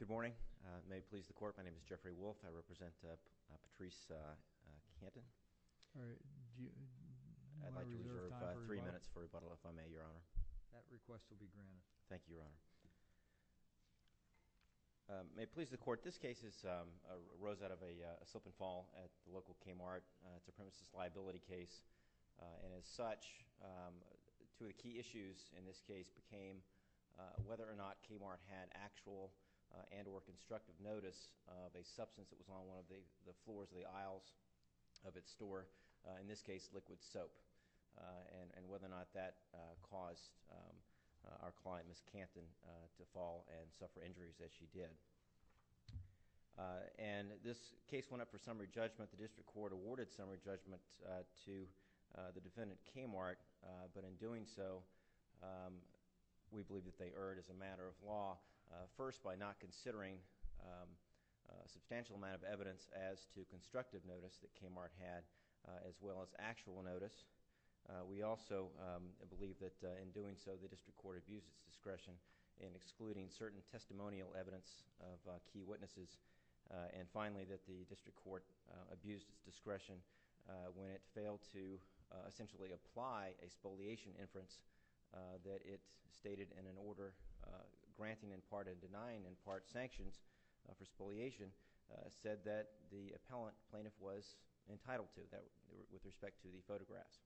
Good morning. May it please the court, my name is Jeffrey Wolf. I represent Patrice Canton. I'd like to reserve three minutes for rebuttal, if I may, Your Honor. That request will be granted. Thank you, Your Honor. May it please the court, this case arose out of a number of issues. One of the key issues in this case became whether or not KMART had actual and or constructive notice of a substance that was on one of the floors of the aisles of its store, in this case liquid soap, and whether or not that caused our client, Ms. Canton, to fall and suffer injuries as she did. And this case went up for summary judgment. The district court awarded summary judgment to the defendant, KMART, but in doing so, we believe that they erred as a matter of law, first by not considering a substantial amount of evidence as to constructive notice that KMART had, as well as actual notice. We also believe that in doing so, the district court abused its discretion in excluding certain when it failed to essentially apply a spoliation inference that it stated in an order granting in part and denying in part sanctions for spoliation, said that the appellant plaintiff was entitled to, with respect to the photographs.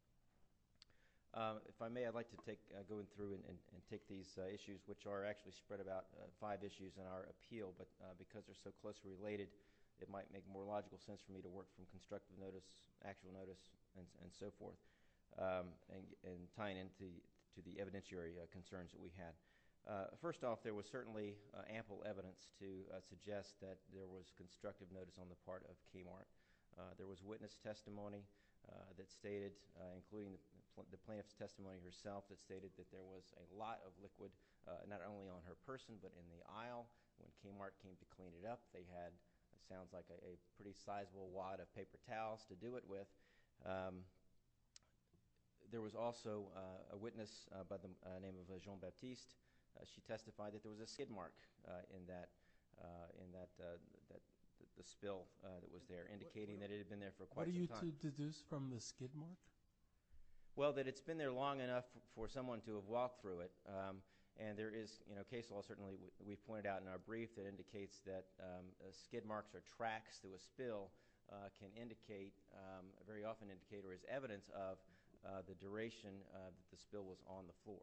If I may, I'd like to go through and take these issues, which are actually spread about five issues in our appeal, but because they're so closely related, it might make more logical sense for me to work from constructive notice, actual notice, and so forth, and tying into the evidentiary concerns that we had. First off, there was certainly ample evidence to suggest that there was constructive notice on the part of KMART. There was witness testimony that stated, including the plaintiff's testimony herself, that stated that there was a lot of liquid not only on her person but in the bath. They had, it sounds like, a pretty sizable wad of paper towels to do it with. There was also a witness by the name of Jean Baptiste. She testified that there was a skid mark in the spill that was there, indicating that it had been there for quite some time. What did you deduce from the skid mark? Well, that it's been there long enough for someone to have walked through it, and there skid marks or tracks through a spill can indicate, very often indicate, or is evidence of, the duration that the spill was on the floor.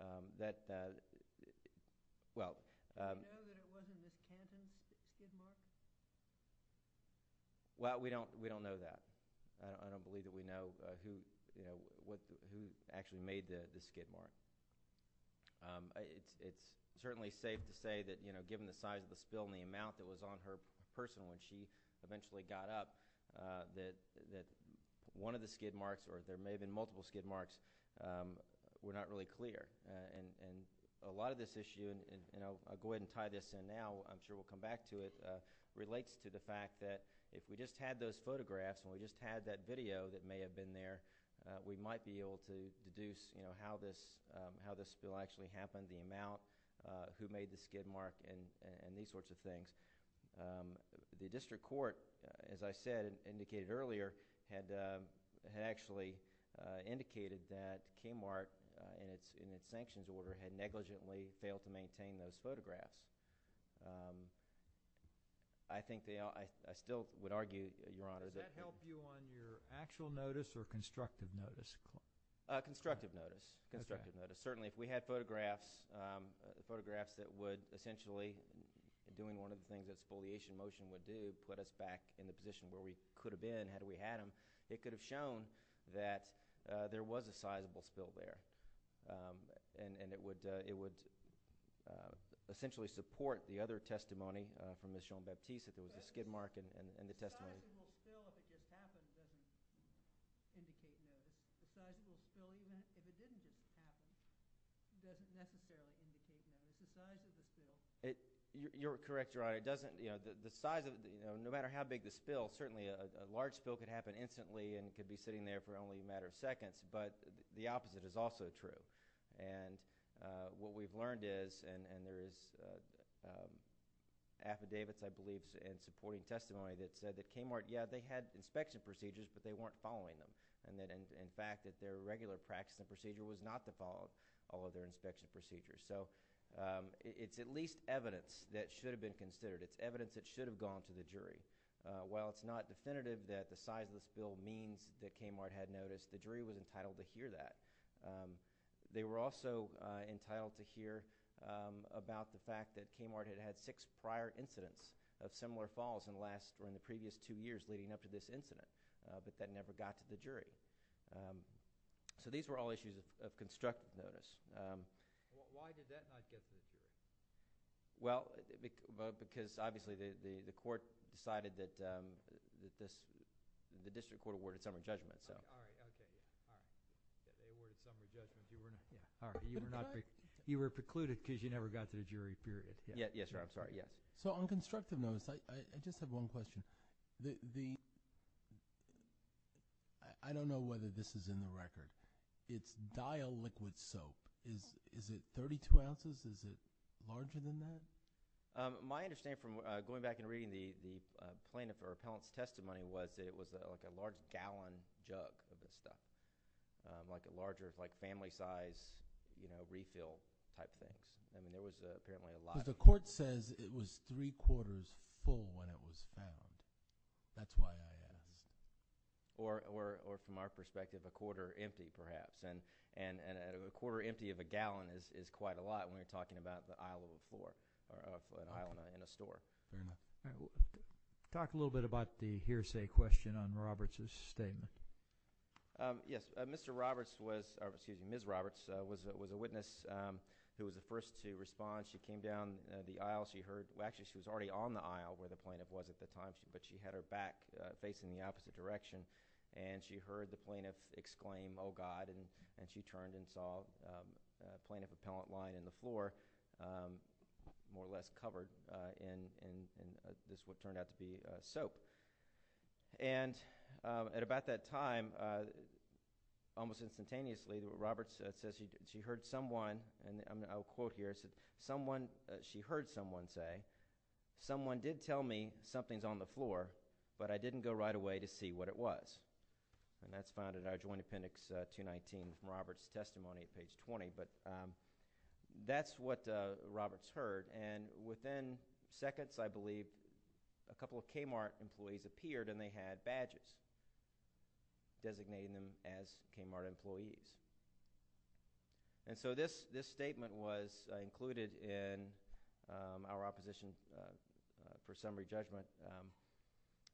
Do you know that it wasn't a camping skid mark? Well, we don't know that. I don't believe that we know who actually made the skid mark. It's certainly safe to say that, you know, given the size of the spill and the amount that was on her person when she eventually got up, that one of the skid marks, or there may have been multiple skid marks, were not really clear. And a lot of this issue, and I'll go ahead and tie this in now, I'm sure we'll come back to it, relates to the fact that if we just had those photographs and we just had that video that may have been there, we might be able to deduce, you know, how this spill actually happened, the amount, who made the skid mark, and these sorts of things. The district court, as I said, indicated earlier, had actually indicated that Kmart, in its sanctions order, had negligently failed to maintain those photographs. I think they all, I still would argue, Your Honor, that would help you on your actual notice or constructive notice? Constructive notice. Constructive notice. Certainly if we had photographs, photographs that would essentially, doing one of the things that spoliation motion would do, put us back in the position where we could have been had we had them, it could have shown that there was a sizable spill there. And it would essentially support the other testimony from Ms. Jean-Baptiste that there was a skid mark in the testimony. The size of the spill, if it did happen, doesn't indicate notice. The size of the spill, even if it didn't happen, doesn't necessarily indicate notice. The size of the spill. You're correct, Your Honor. It doesn't, you know, the size of, no matter how big the spill, certainly a large spill could happen instantly and could be sitting there for only a matter of seconds, but the opposite is also true. And what we've learned is, and there is affidavits, I believe, in supporting testimony that said that Kmart, yeah, they had inspection procedures, but they weren't following them. And that, in fact, that their regular practice and procedure was not to follow all of their inspection procedures. So it's at least evidence that should have been considered. It's evidence that should have gone to the jury. While it's not definitive that the size of the spill means that Kmart had notice, the jury was entitled to hear that. They were also entitled to hear about the fact that Kmart had had six prior incidents of similar falls in the last, or in the previous two years leading up to this incident, but that never got to the jury. So these were all issues of constructive notice. Why did that not get to the jury? Well, because obviously the court decided that this, the district court awarded some of the judgments, so. All right, okay. They awarded some of the judgments. You were not, yeah, all right. You were not, you were precluded because you never got to the jury, period. Yes, sir, I'm sorry, yes. So on constructive notice, I just have one question. I don't know whether this is in the record. It's dial liquid soap. Is it 32 ounces? Is it larger than that? My understanding from going back and reading the plaintiff or appellant's testimony was that it was like a large gallon jug of things. I mean, it was apparently a lot. Because the court says it was three quarters full when it was found. That's why I asked. Or from our perspective, a quarter empty, perhaps. And a quarter empty of a gallon is quite a lot when we're talking about the aisle of a floor, or an aisle in a store. Very much. All right. Talk a little bit about the hearsay question on Roberts' statement. Yes. Mr. Roberts was, or excuse me, Ms. Roberts was a witness who was the first to respond. She came down the aisle. She heard, well, actually, she was already on the aisle where the plaintiff was at the time, but she had her back facing the opposite direction. And she heard the plaintiff exclaim, oh, God. And she turned and saw a plaintiff appellant lying on the floor, more or less covered in what turned out to be soap. And at about that time, almost instantaneously, Roberts says she heard someone, and I'll quote here, she heard someone say, someone did tell me something's on the floor, but I didn't go right away to see what it was. And that's found in our Joint Appendix 219 from Roberts' testimony, page 20. But that's what Roberts heard. And within seconds, I believe, a couple of Kmart employees appeared and they had badges designating them as Kmart employees. And so this statement was included in our opposition for summary judgment.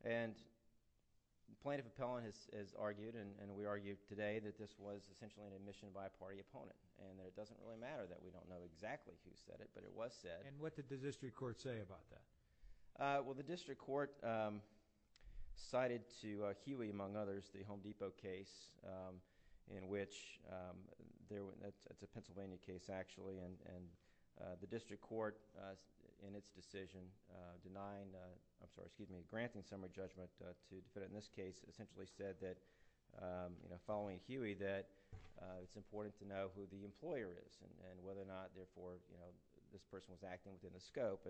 And the plaintiff appellant has argued, and we argued today, that this was essentially an admission by a party opponent. And it doesn't really matter that we don't know exactly who said it, but it was said. And what did the district court say about that? Well, the district court cited to Huey, among others, the Home Depot case in which, it's a Pennsylvania case, actually, and the district court, in its decision, denying... I'm sorry, excuse me, granting summary judgment to... but in this case, it essentially said that, following Huey, that it's important to know who the employer is and whether or not, therefore, this person was acting within the scope.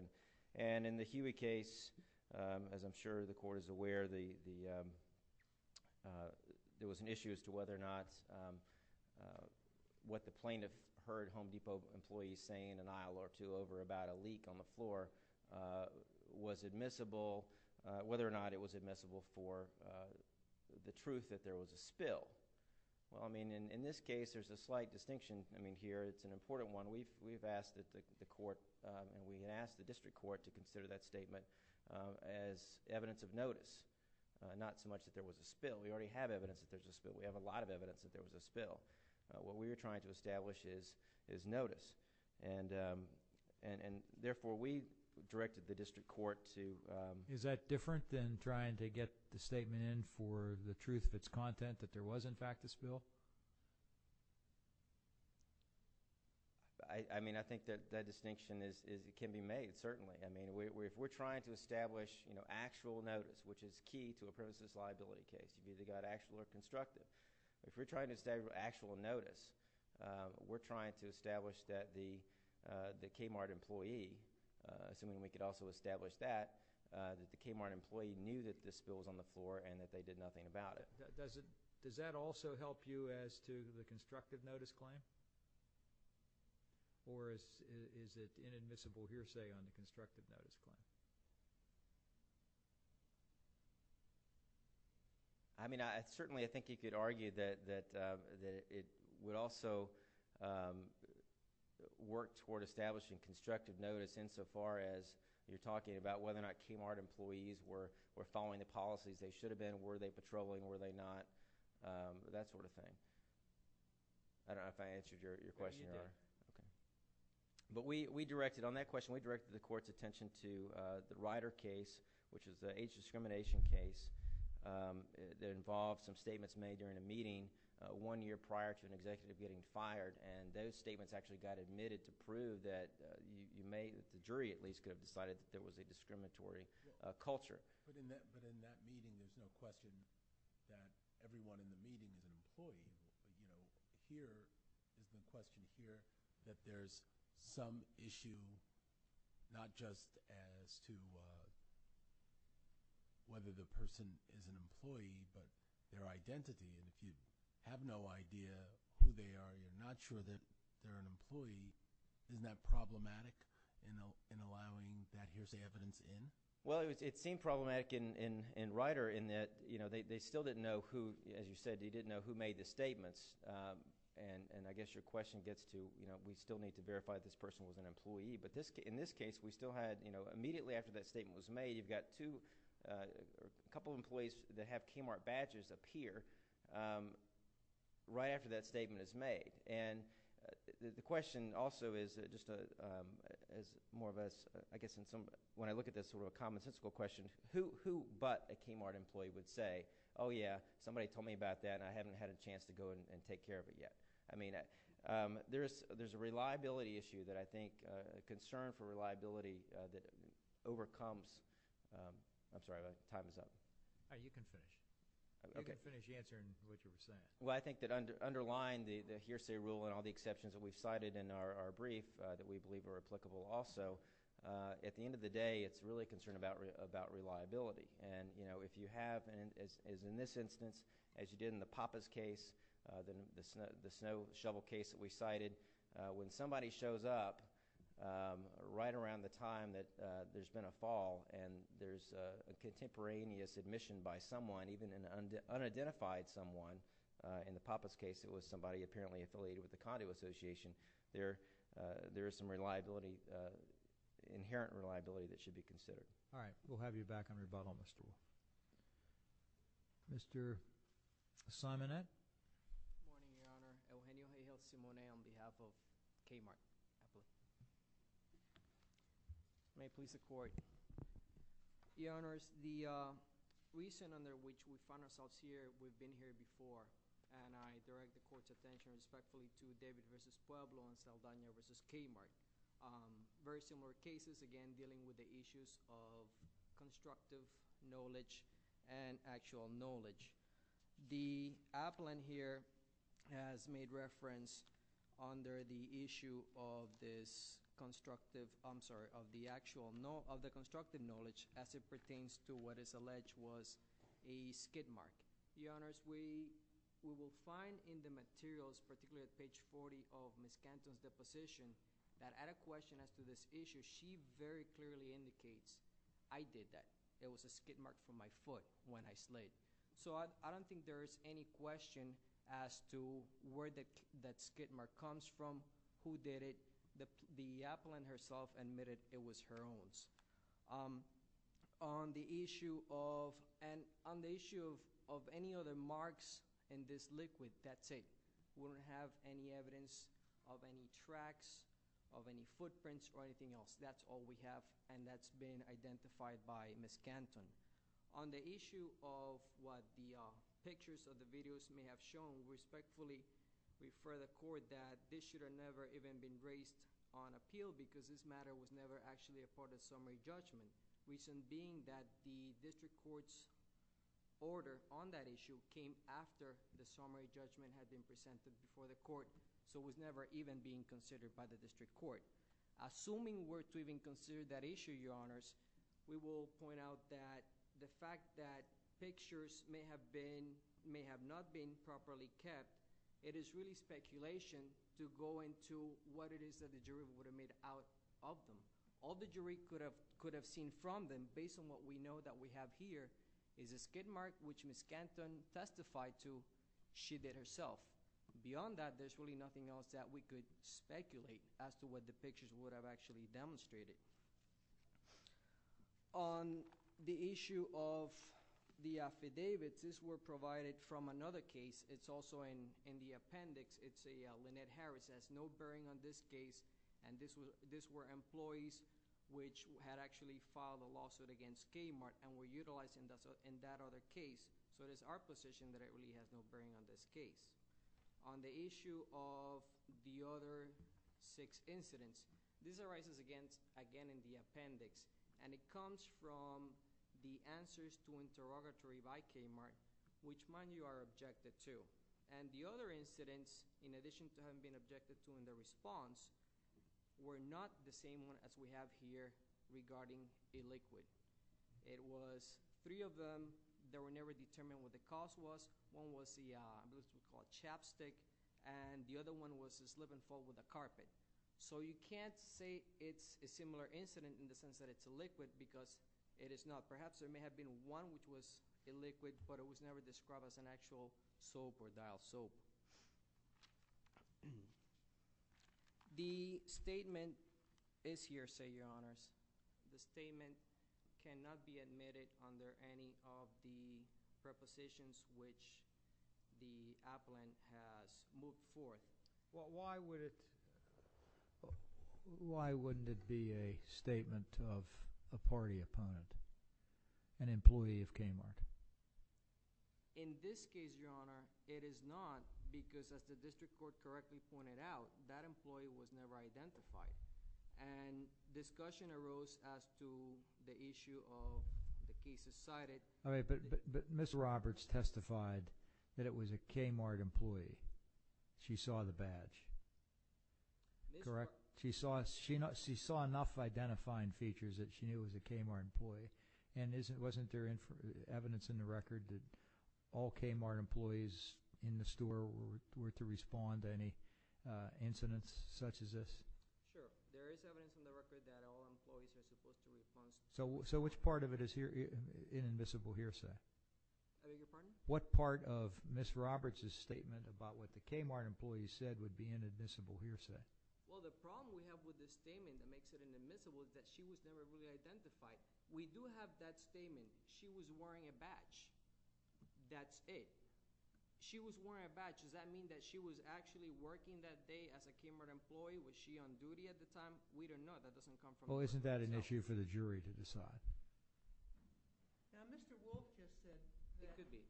And in the Huey case, as I'm sure the court is aware, there was an issue as to whether or not what the plaintiff heard Home Depot employees say in an aisle or two over about a leak on the floor was admissible, whether or not it was admissible for the truth that there was a spill. Well, I mean, in this case, there's a slight distinction. I mean, here, it's an important one. We've asked the court and we asked the district court to consider that statement as evidence of notice, not so much that there was a spill. We already have evidence that there was a spill. We have a lot of evidence that there was a spill. What we were trying to establish is notice. And therefore, we directed the district court to... Is that different than trying to get the statement in for the truth of its content, that there was, in fact, a spill? I mean, I think that that distinction can be made, certainly. I mean, if we're trying to establish actual notice, which is key to a premises liability case, it's either got actual or constructive. If we're trying to establish actual notice, we're trying to establish that the Kmart employee, assuming we could also establish that, that the Kmart employee knew that the spill was on the floor and that they did nothing about it. Does that also help you as to the constructive notice claim? Or is it inadmissible hearsay on the constructive notice claim? I mean, certainly, I think you could argue that it would also work toward establishing constructive notice insofar as you're talking about whether or not Kmart employees were following the policies they should have been, were they patrolling, were they not, that sort of thing. I don't know if I answered your question, Your Honor. You did. Okay. But on that question, we directed the court's attention to the Ryder case, which is the age discrimination case that involved some statements made during a meeting one year prior to an executive getting fired. And those statements actually got admitted to prove that you may, the jury at least, could have decided that there was a discriminatory culture. But in that meeting, there's no question that everyone in the meeting is an employee. Here, there's no question here that there's some issue not just as to whether the person is an employee but their identity. And if you have no idea who they are, you're not sure that they're an employee, isn't that problematic in allowing that hearsay evidence in? Well, it seemed problematic in Ryder in that they still didn't know who, as you said, they didn't know who made the statements. And I guess your question gets to we still need to verify this person was an employee. But in this case, we still had immediately after that statement was made, you've got a couple of employees that have Kmart badges appear right after that statement is made. And the question also is, just as more of us, I guess when I look at this sort of a commonsensical question, who but a Kmart employee would say, oh, yeah, somebody told me about that and I haven't had a chance to go and take care of it yet? I mean, there's a reliability issue that I think, a concern for reliability that overcomes — I'm sorry, my time is up. You can finish. You can finish answering what you were saying. Well, I think that underlying the hearsay rule and all the exceptions that we've cited in our brief that we believe are applicable also, at the end of the day, it's really a concern about reliability. And if you have, as in this instance, as you did in the Pappas case, the snow shovel case that we cited, when somebody shows up right around the time that there's been a fall and there's a contemporaneous admission by someone, even an unidentified someone, in the Pappas case it was somebody apparently affiliated with the Condo Association, there is some reliability, inherent reliability that should be considered. All right. We'll have you back on rebuttal, Mr. Moore. Mr. Simonet? Good morning, Your Honor. Eugenio J. Gelsimone on behalf of Kmart. May it please the Court. Your Honors, the reason under which we find ourselves here, we've been here before, and I direct the Court's attention respectfully to David v. Pueblo and Saldana v. Kmart. Very similar cases, again, dealing with the issues of constructive knowledge and actual knowledge. The appellant here has made reference under the issue of this constructive, I'm sorry, constructive knowledge as it pertains to what is alleged was a skid mark. Your Honors, we will find in the materials, particularly at page 40 of Ms. Canton's deposition, that at a question as to this issue, she very clearly indicates, I did that. It was a skid mark from my foot when I slid. So I don't think there is any question as to where that skid mark comes from, who did it. The appellant herself admitted it was her own. On the issue of any other marks in this liquid, that's it. We don't have any evidence of any tracks, of any footprints, or anything else. That's all we have, and that's been identified by Ms. Canton. On the issue of what the pictures or the videos may have shown, we respectfully refer the court that this should have never even been raised on appeal because this matter was never actually a part of summary judgment. Reason being that the district court's order on that issue came after the summary judgment had been presented before the court, so it was never even being considered by the district court. Assuming we're to even consider that issue, Your Honors, we will point out that the fact that pictures may have not been properly kept, it is really speculation to go into what it is that the jury would have made out of them. All the jury could have seen from them, based on what we know that we have here, is a skid mark which Ms. Canton testified to she did herself. Beyond that, there's really nothing else that we could speculate as to what the pictures would have actually demonstrated. On the issue of the affidavits, these were provided from another case. It's also in the appendix. Lynette Harris has no bearing on this case, and these were employees which had actually filed a lawsuit against Kmart and were utilized in that other case, so it is our position that it really has no bearing on this case. On the issue of the other six incidents, this arises again in the appendix, and it comes from the answers to interrogatory by Kmart, which many of you are objected to. The other incidents, in addition to having been objected to in the response, were not the same ones as we have here regarding the liquid. It was three of them that were never determined what the cause was. One was the liquid. So you can't say it's a similar incident in the sense that it's a liquid, because it is not. Perhaps there may have been one which was a liquid, but it was never described as an actual soap or dial soap. The statement is here, say, Your Honors. The statement cannot be admitted under any of the prepositions which the appellant has moved forth. Well, why wouldn't it be a statement of a party opponent, an employee of Kmart? In this case, Your Honor, it is not, because as the district court correctly pointed out, that employee was never identified, and discussion arose as to the issue of the cases cited... But Ms. Roberts testified that it was a Kmart employee. She saw the badge, correct? She saw enough identifying features that she knew it was a Kmart employee. And wasn't there evidence in the record that all Kmart employees in the store were to respond to any incidents such as this? Sure. There is evidence in the record that all employees were supposed to respond... So, which part of it is here in admissible hearsay? Pardon? What part of Ms. Roberts' statement about what the Kmart employee said would be in admissible hearsay? Well, the problem we have with the statement that makes it inadmissible is that she was never really identified. We do have that statement. She was wearing a badge. That's it. She was wearing a badge. Does that mean that she was actually working that day as a Kmart employee? Was she on duty at the time? We don't know. That doesn't come from... Now, Mr. Wolf just said... It could be.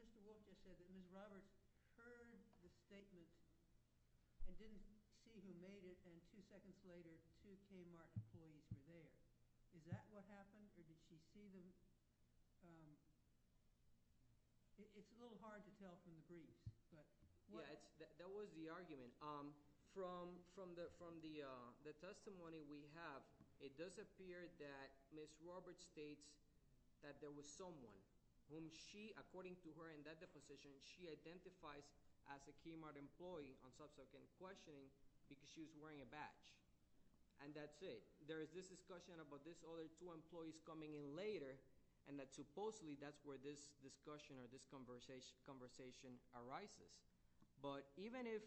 Mr. Wolf just said that Ms. Roberts heard the statement and didn't see who made it, and two seconds later, two Kmart employees were there. Is that what happened? Did she see them? It's a little hard to tell from the brief, but... Ms. Roberts states that there was someone whom she, according to her in that deposition, she identifies as a Kmart employee on subsequent questioning because she was wearing a badge. And that's it. There is this discussion about these other two employees coming in later and that supposedly that's where this discussion or this conversation arises. But even if,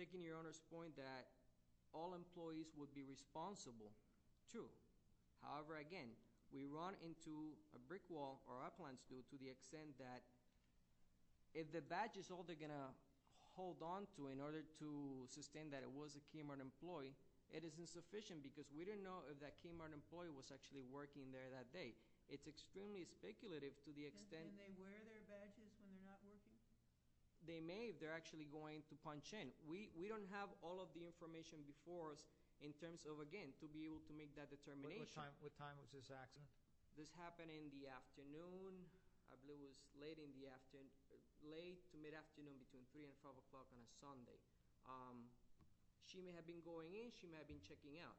taking your Honor's point, that all employees would be responsible, true. However, again, we run into a brick wall, or our plans do, to the extent that if the badge is all they're going to hold on to in order to sustain that it was a Kmart employee, it is insufficient because we don't know if that Kmart employee was actually working there that day. It's extremely speculative to the extent... Can they wear their badges when they're not working? They may if they're actually going to punch in. We don't have all of the information before us in terms of, again, to be able to make that determination. What time was this accident? This happened in the afternoon. I believe it was late in the afternoon. Late to mid-afternoon between 3 and 12 o'clock on a Sunday. She may have been going in. She may have been checking out.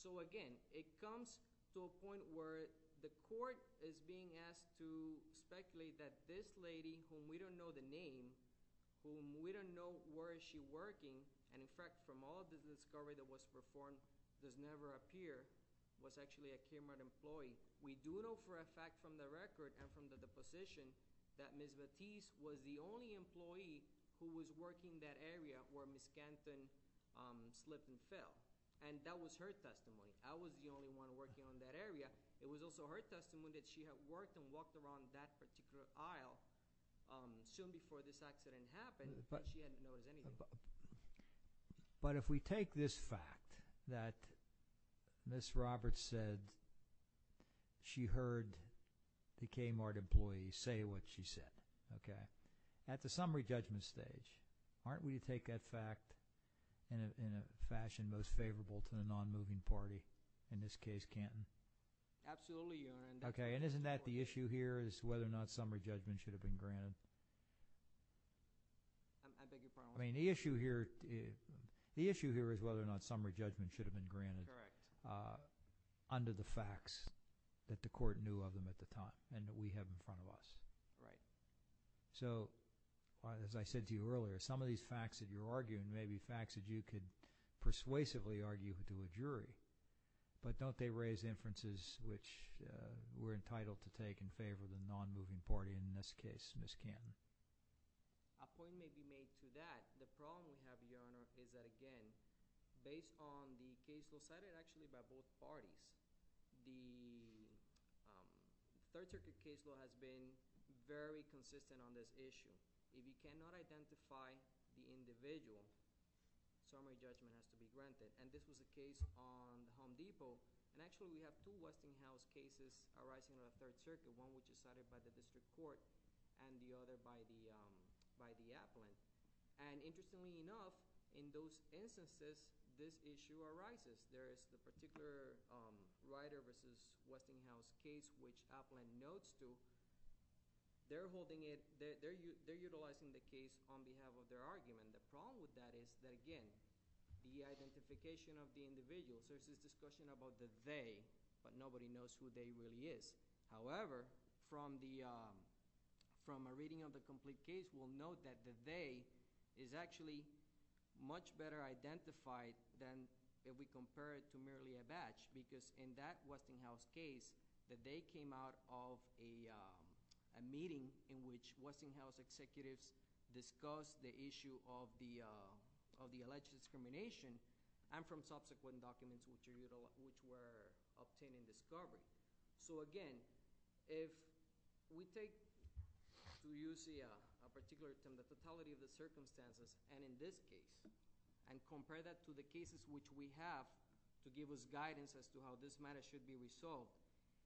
So again, it comes to a point where the court is being asked to speculate that this lady, whom we don't know the name, whom we don't know where is she working, and in fact, from all of the discovery that was performed, does never appear, was actually a Kmart employee. We do know for a fact from the record and from the deposition that Ms. Batiste was the only employee who was working that area where Ms. Canton slipped and fell. And that was her testimony. I was the only one working on that area. It was also her particular aisle. Soon before this accident happened, she hadn't noticed anything. But if we take this fact that Ms. Roberts said she heard the Kmart employee say what she said, okay, at the summary judgment stage, aren't we to take that fact in a fashion most favorable to the non-moving party, in this case, Canton? Absolutely, Your Honor. Okay. And isn't that the issue here is whether or not summary judgment should have been granted? I beg your pardon? I mean, the issue here is whether or not summary judgment should have been granted under the facts that the court knew of them at the time and that we have in front of us. Right. So as I said to you earlier, some of these facts that you're arguing may be facts that you could persuasively argue to a jury, but don't they raise inferences which we're entitled to take in favor of the non-moving party, in this case, Ms. Canton? A point may be made to that. The problem we have, Your Honor, is that, again, based on the case law cited actually by both parties, the Third Circuit case law has been very consistent on this issue. If you cannot identify the individual, summary judgment has to be granted. And this is the case on Home Depot, and actually we have two Westinghouse cases arising on the Third Circuit, one which is cited by the district court and the other by the appellant. And interestingly enough, in those instances, this issue arises. There is the particular Ryder v. Westinghouse case which appellant notes to. They're utilizing the case on behalf of their argument. The problem with that is that, again, the identification of the individual. There's this discussion about the they, but nobody knows who they really is. However, from a reading of the complete case, we'll note that the they is actually much better identified than if we compare it to merely a batch because in that Westinghouse case, the they came out of a meeting in which Westinghouse executives discussed the issue of the alleged discrimination and from subsequent documents which were obtained and discovered. So, again, if we take to use a particular term, the fatality of the circumstances, and in this case, and compare that to the cases which we have to give us guidance as to how this matter should be resolved,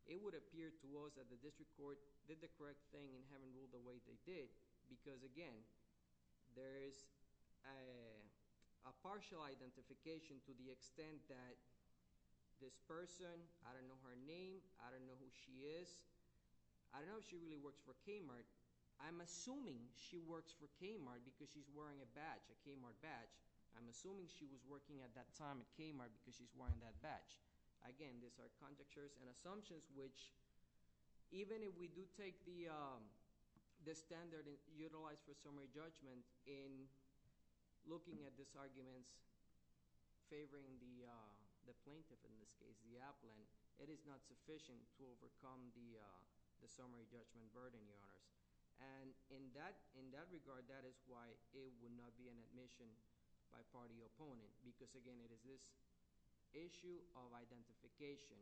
it would appear to us that the district court did the correct thing in having ruled the way they did because, again, there is a partial identification to the extent that this person, I don't know her name, I don't know who she is, I don't know if she really works for Kmart. I'm assuming she works for Kmart because she's wearing a badge, a Kmart badge. I'm assuming she was working at that time at Kmart because she's wearing that badge. Again, these are conjectures and assumptions which, even if we do take the standard utilized for summary judgment in looking at these arguments favoring the plaintiff, in this case the applant, it is not sufficient to overcome the summary judgment burden, Your Honors. And in that regard, that is why it would not be an admission by party opponent because, again, it is this issue of identification.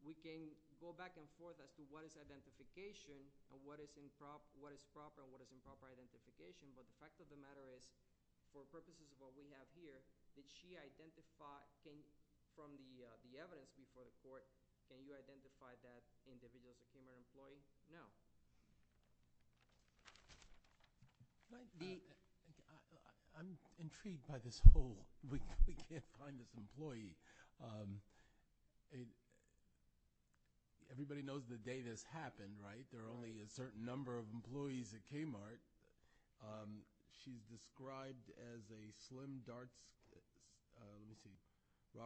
We can go back and forth as to what is identification and what is proper and what is improper identification, but the fact of the matter is, for purposes of what we have here, did she identify from the evidence before the court, can you identify that individual as a Kmart employee? No. I'm intrigued by this whole, we can't find this employee. Everybody knows the day this happened, right? There are only a certain number of employees at Kmart. She's described as a slim, dark-skinned, let me see, but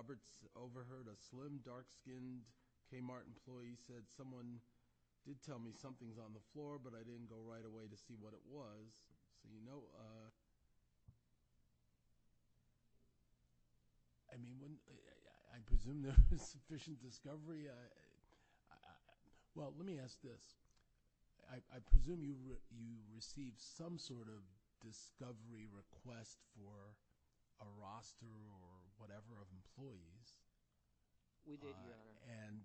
I didn't go right away to see what it was. I presume there was sufficient discovery. Well, let me ask this. I presume you received some sort of discovery request for a roster or whatever of employees. We did, Your Honor. And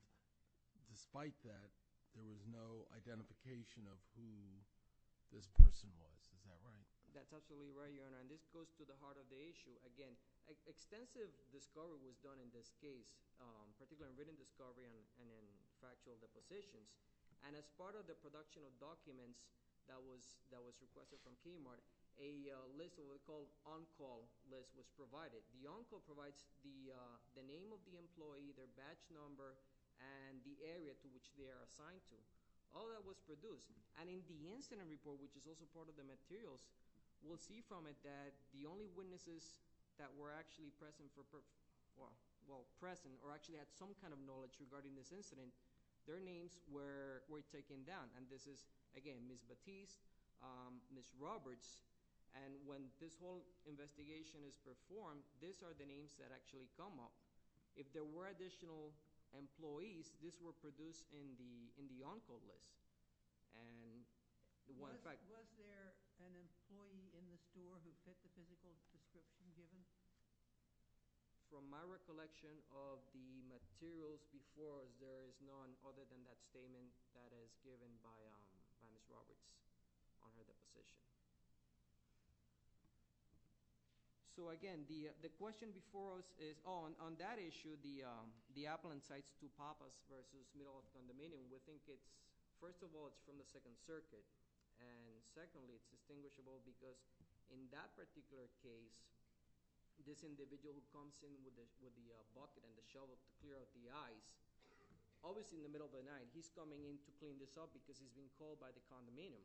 despite that, there was no identification of who this person was, is that right? That's absolutely right, Your Honor, and this goes to the heart of the issue. Again, extensive discovery was done in this case, particularly in written discovery and in factual depositions, and as part of the production of documents that was requested from Kmart, a list called on-call list was provided. The on-call provides the name of the employee, their batch number, and the area to which they are assigned to. All that was produced, and in the incident report, which is also part of the materials, we'll see from it that the only witnesses that were actually present or actually had some kind of knowledge regarding this incident, their names were taken down, and this is, again, Ms. Batiste, Ms. Roberts, and when this whole investigation is performed, these are the names that actually come up. If there were additional employees, these were produced in the on-call list. Was there an employee in the store who fit the physical description given? From my recollection of the materials before us, there is none other than that statement that is given by Ms. Roberts on her deposition. So, again, the question before us is on that issue, the appellant sites to Papas versus Middle East and the Median. We think it's, first of all, it's from the Second Circuit, and secondly, it's distinguishable because in that particular case, this individual who comes in with the bucket and the shovel to clear up the ice, obviously in the middle of the night, he's coming in to clean this up because he's been called by the condominium.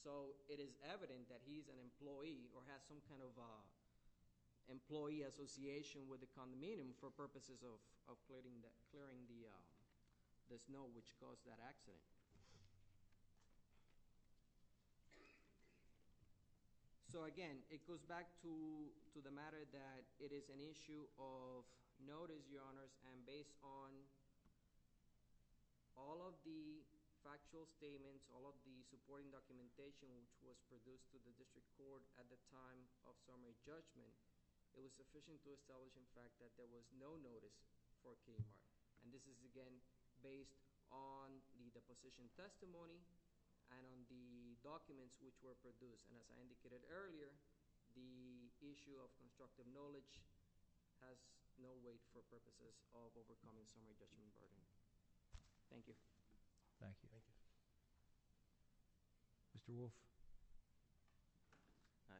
So it is evident that he's an employee or has some kind of employee association with the condominium for purposes of clearing the snow which caused that accident. So, again, it goes back to the matter that it is an issue of notice, Your Honors, and based on all of the factual statements, all of the supporting documentation which was produced to the district court at the time of summary judgment, it was sufficient to establish, in fact, that there was no notice for Kuhlman. And this is, again, based on the deposition testimony and on the documents which were produced. And as I indicated earlier, the issue of constructive knowledge has no weight for purposes of overcoming summary judgment burden. Thank you. Thank you. Thank you. Mr. Wolf?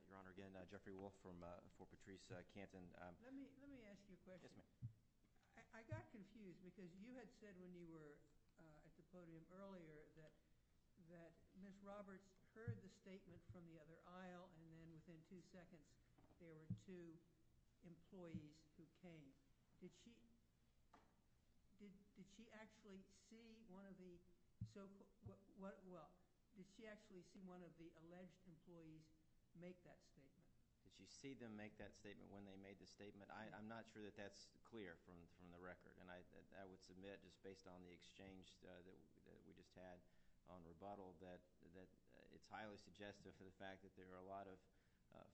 Your Honor, again, Jeffrey Wolf from Fort Patrice, Canton. Let me ask you a question. I got confused because you had said when you were at the podium earlier that Ms. Roberts heard the statement from the other aisle, and then within two seconds there were two employees who came. Did she actually see one of the alleged employees make that statement? Did she see them make that statement when they made the statement? I'm not sure that that's clear from the record. And I would submit, just based on the exchange that we just had on rebuttal, that it's highly suggestive of the fact that there are a lot of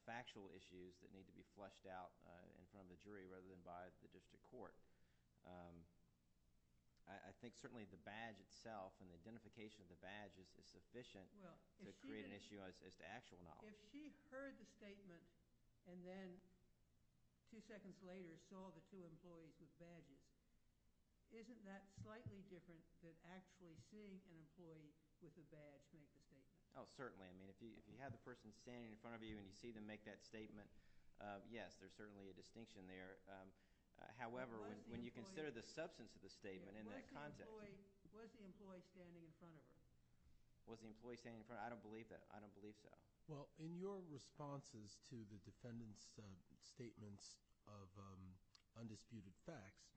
factual issues that need to be flushed out in front of the jury rather than by the district court. I think certainly the badge itself and the identification of the badge is sufficient to create an issue as to actual knowledge. If she heard the statement and then two seconds later saw the two employees with badges, isn't that slightly different than actually seeing an employee with a badge make the statement? Oh, certainly. I mean, if you have the person standing in front of you and you see them make that statement, yes, there's certainly a distinction there. However, when you consider the substance of the statement and that concept. Was the employee standing in front of her? Was the employee standing in front of her? I don't believe that. Well, in your responses to the defendant's statements of undisputed facts,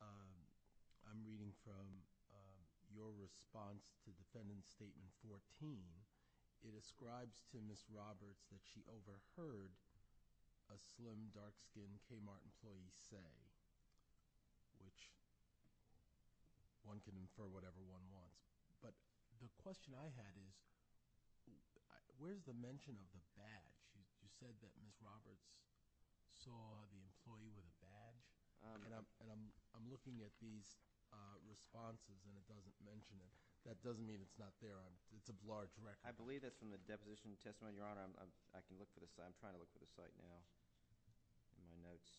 I'm reading from your response to Defendant Statement 14. It ascribes to Ms. Roberts that she overheard a slim, dark-skinned Kmart employee say, which one can infer whatever one wants. But the question I had is where's the mention of the badge? You said that Ms. Roberts saw the employee with a badge. And I'm looking at these responses and it doesn't mention it. That doesn't mean it's not there. It's a large record. I believe that's from the deposition testimony, Your Honor. I'm trying to look for the site now in my notes.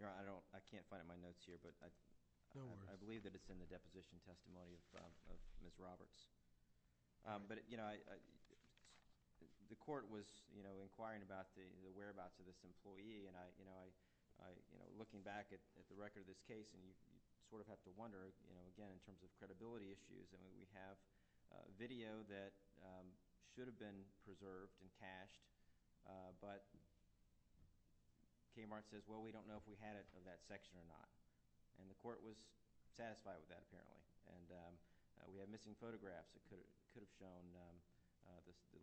Your Honor, I can't find it in my notes here. But I believe that it's in the deposition testimony of Ms. Roberts. But the court was inquiring about the whereabouts of this employee. And looking back at the record of this case, you sort of have to wonder, again, in terms of credibility issues. I mean, we have video that should have been preserved and cached. But Kmart says, well, we don't know if we had it in that section or not. And the court was satisfied with that apparently. And we have missing photographs that could have shown the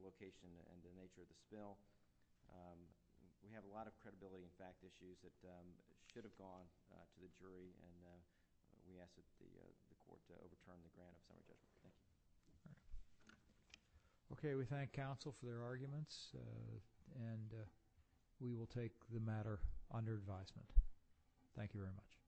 location and the nature of the spill. We have a lot of credibility and fact issues that should have gone to the jury. And, yes, it's the court that overturned the grant of some of this. All right. OK. We thank counsel for their arguments. And we will take the matter under advisement. Thank you very much.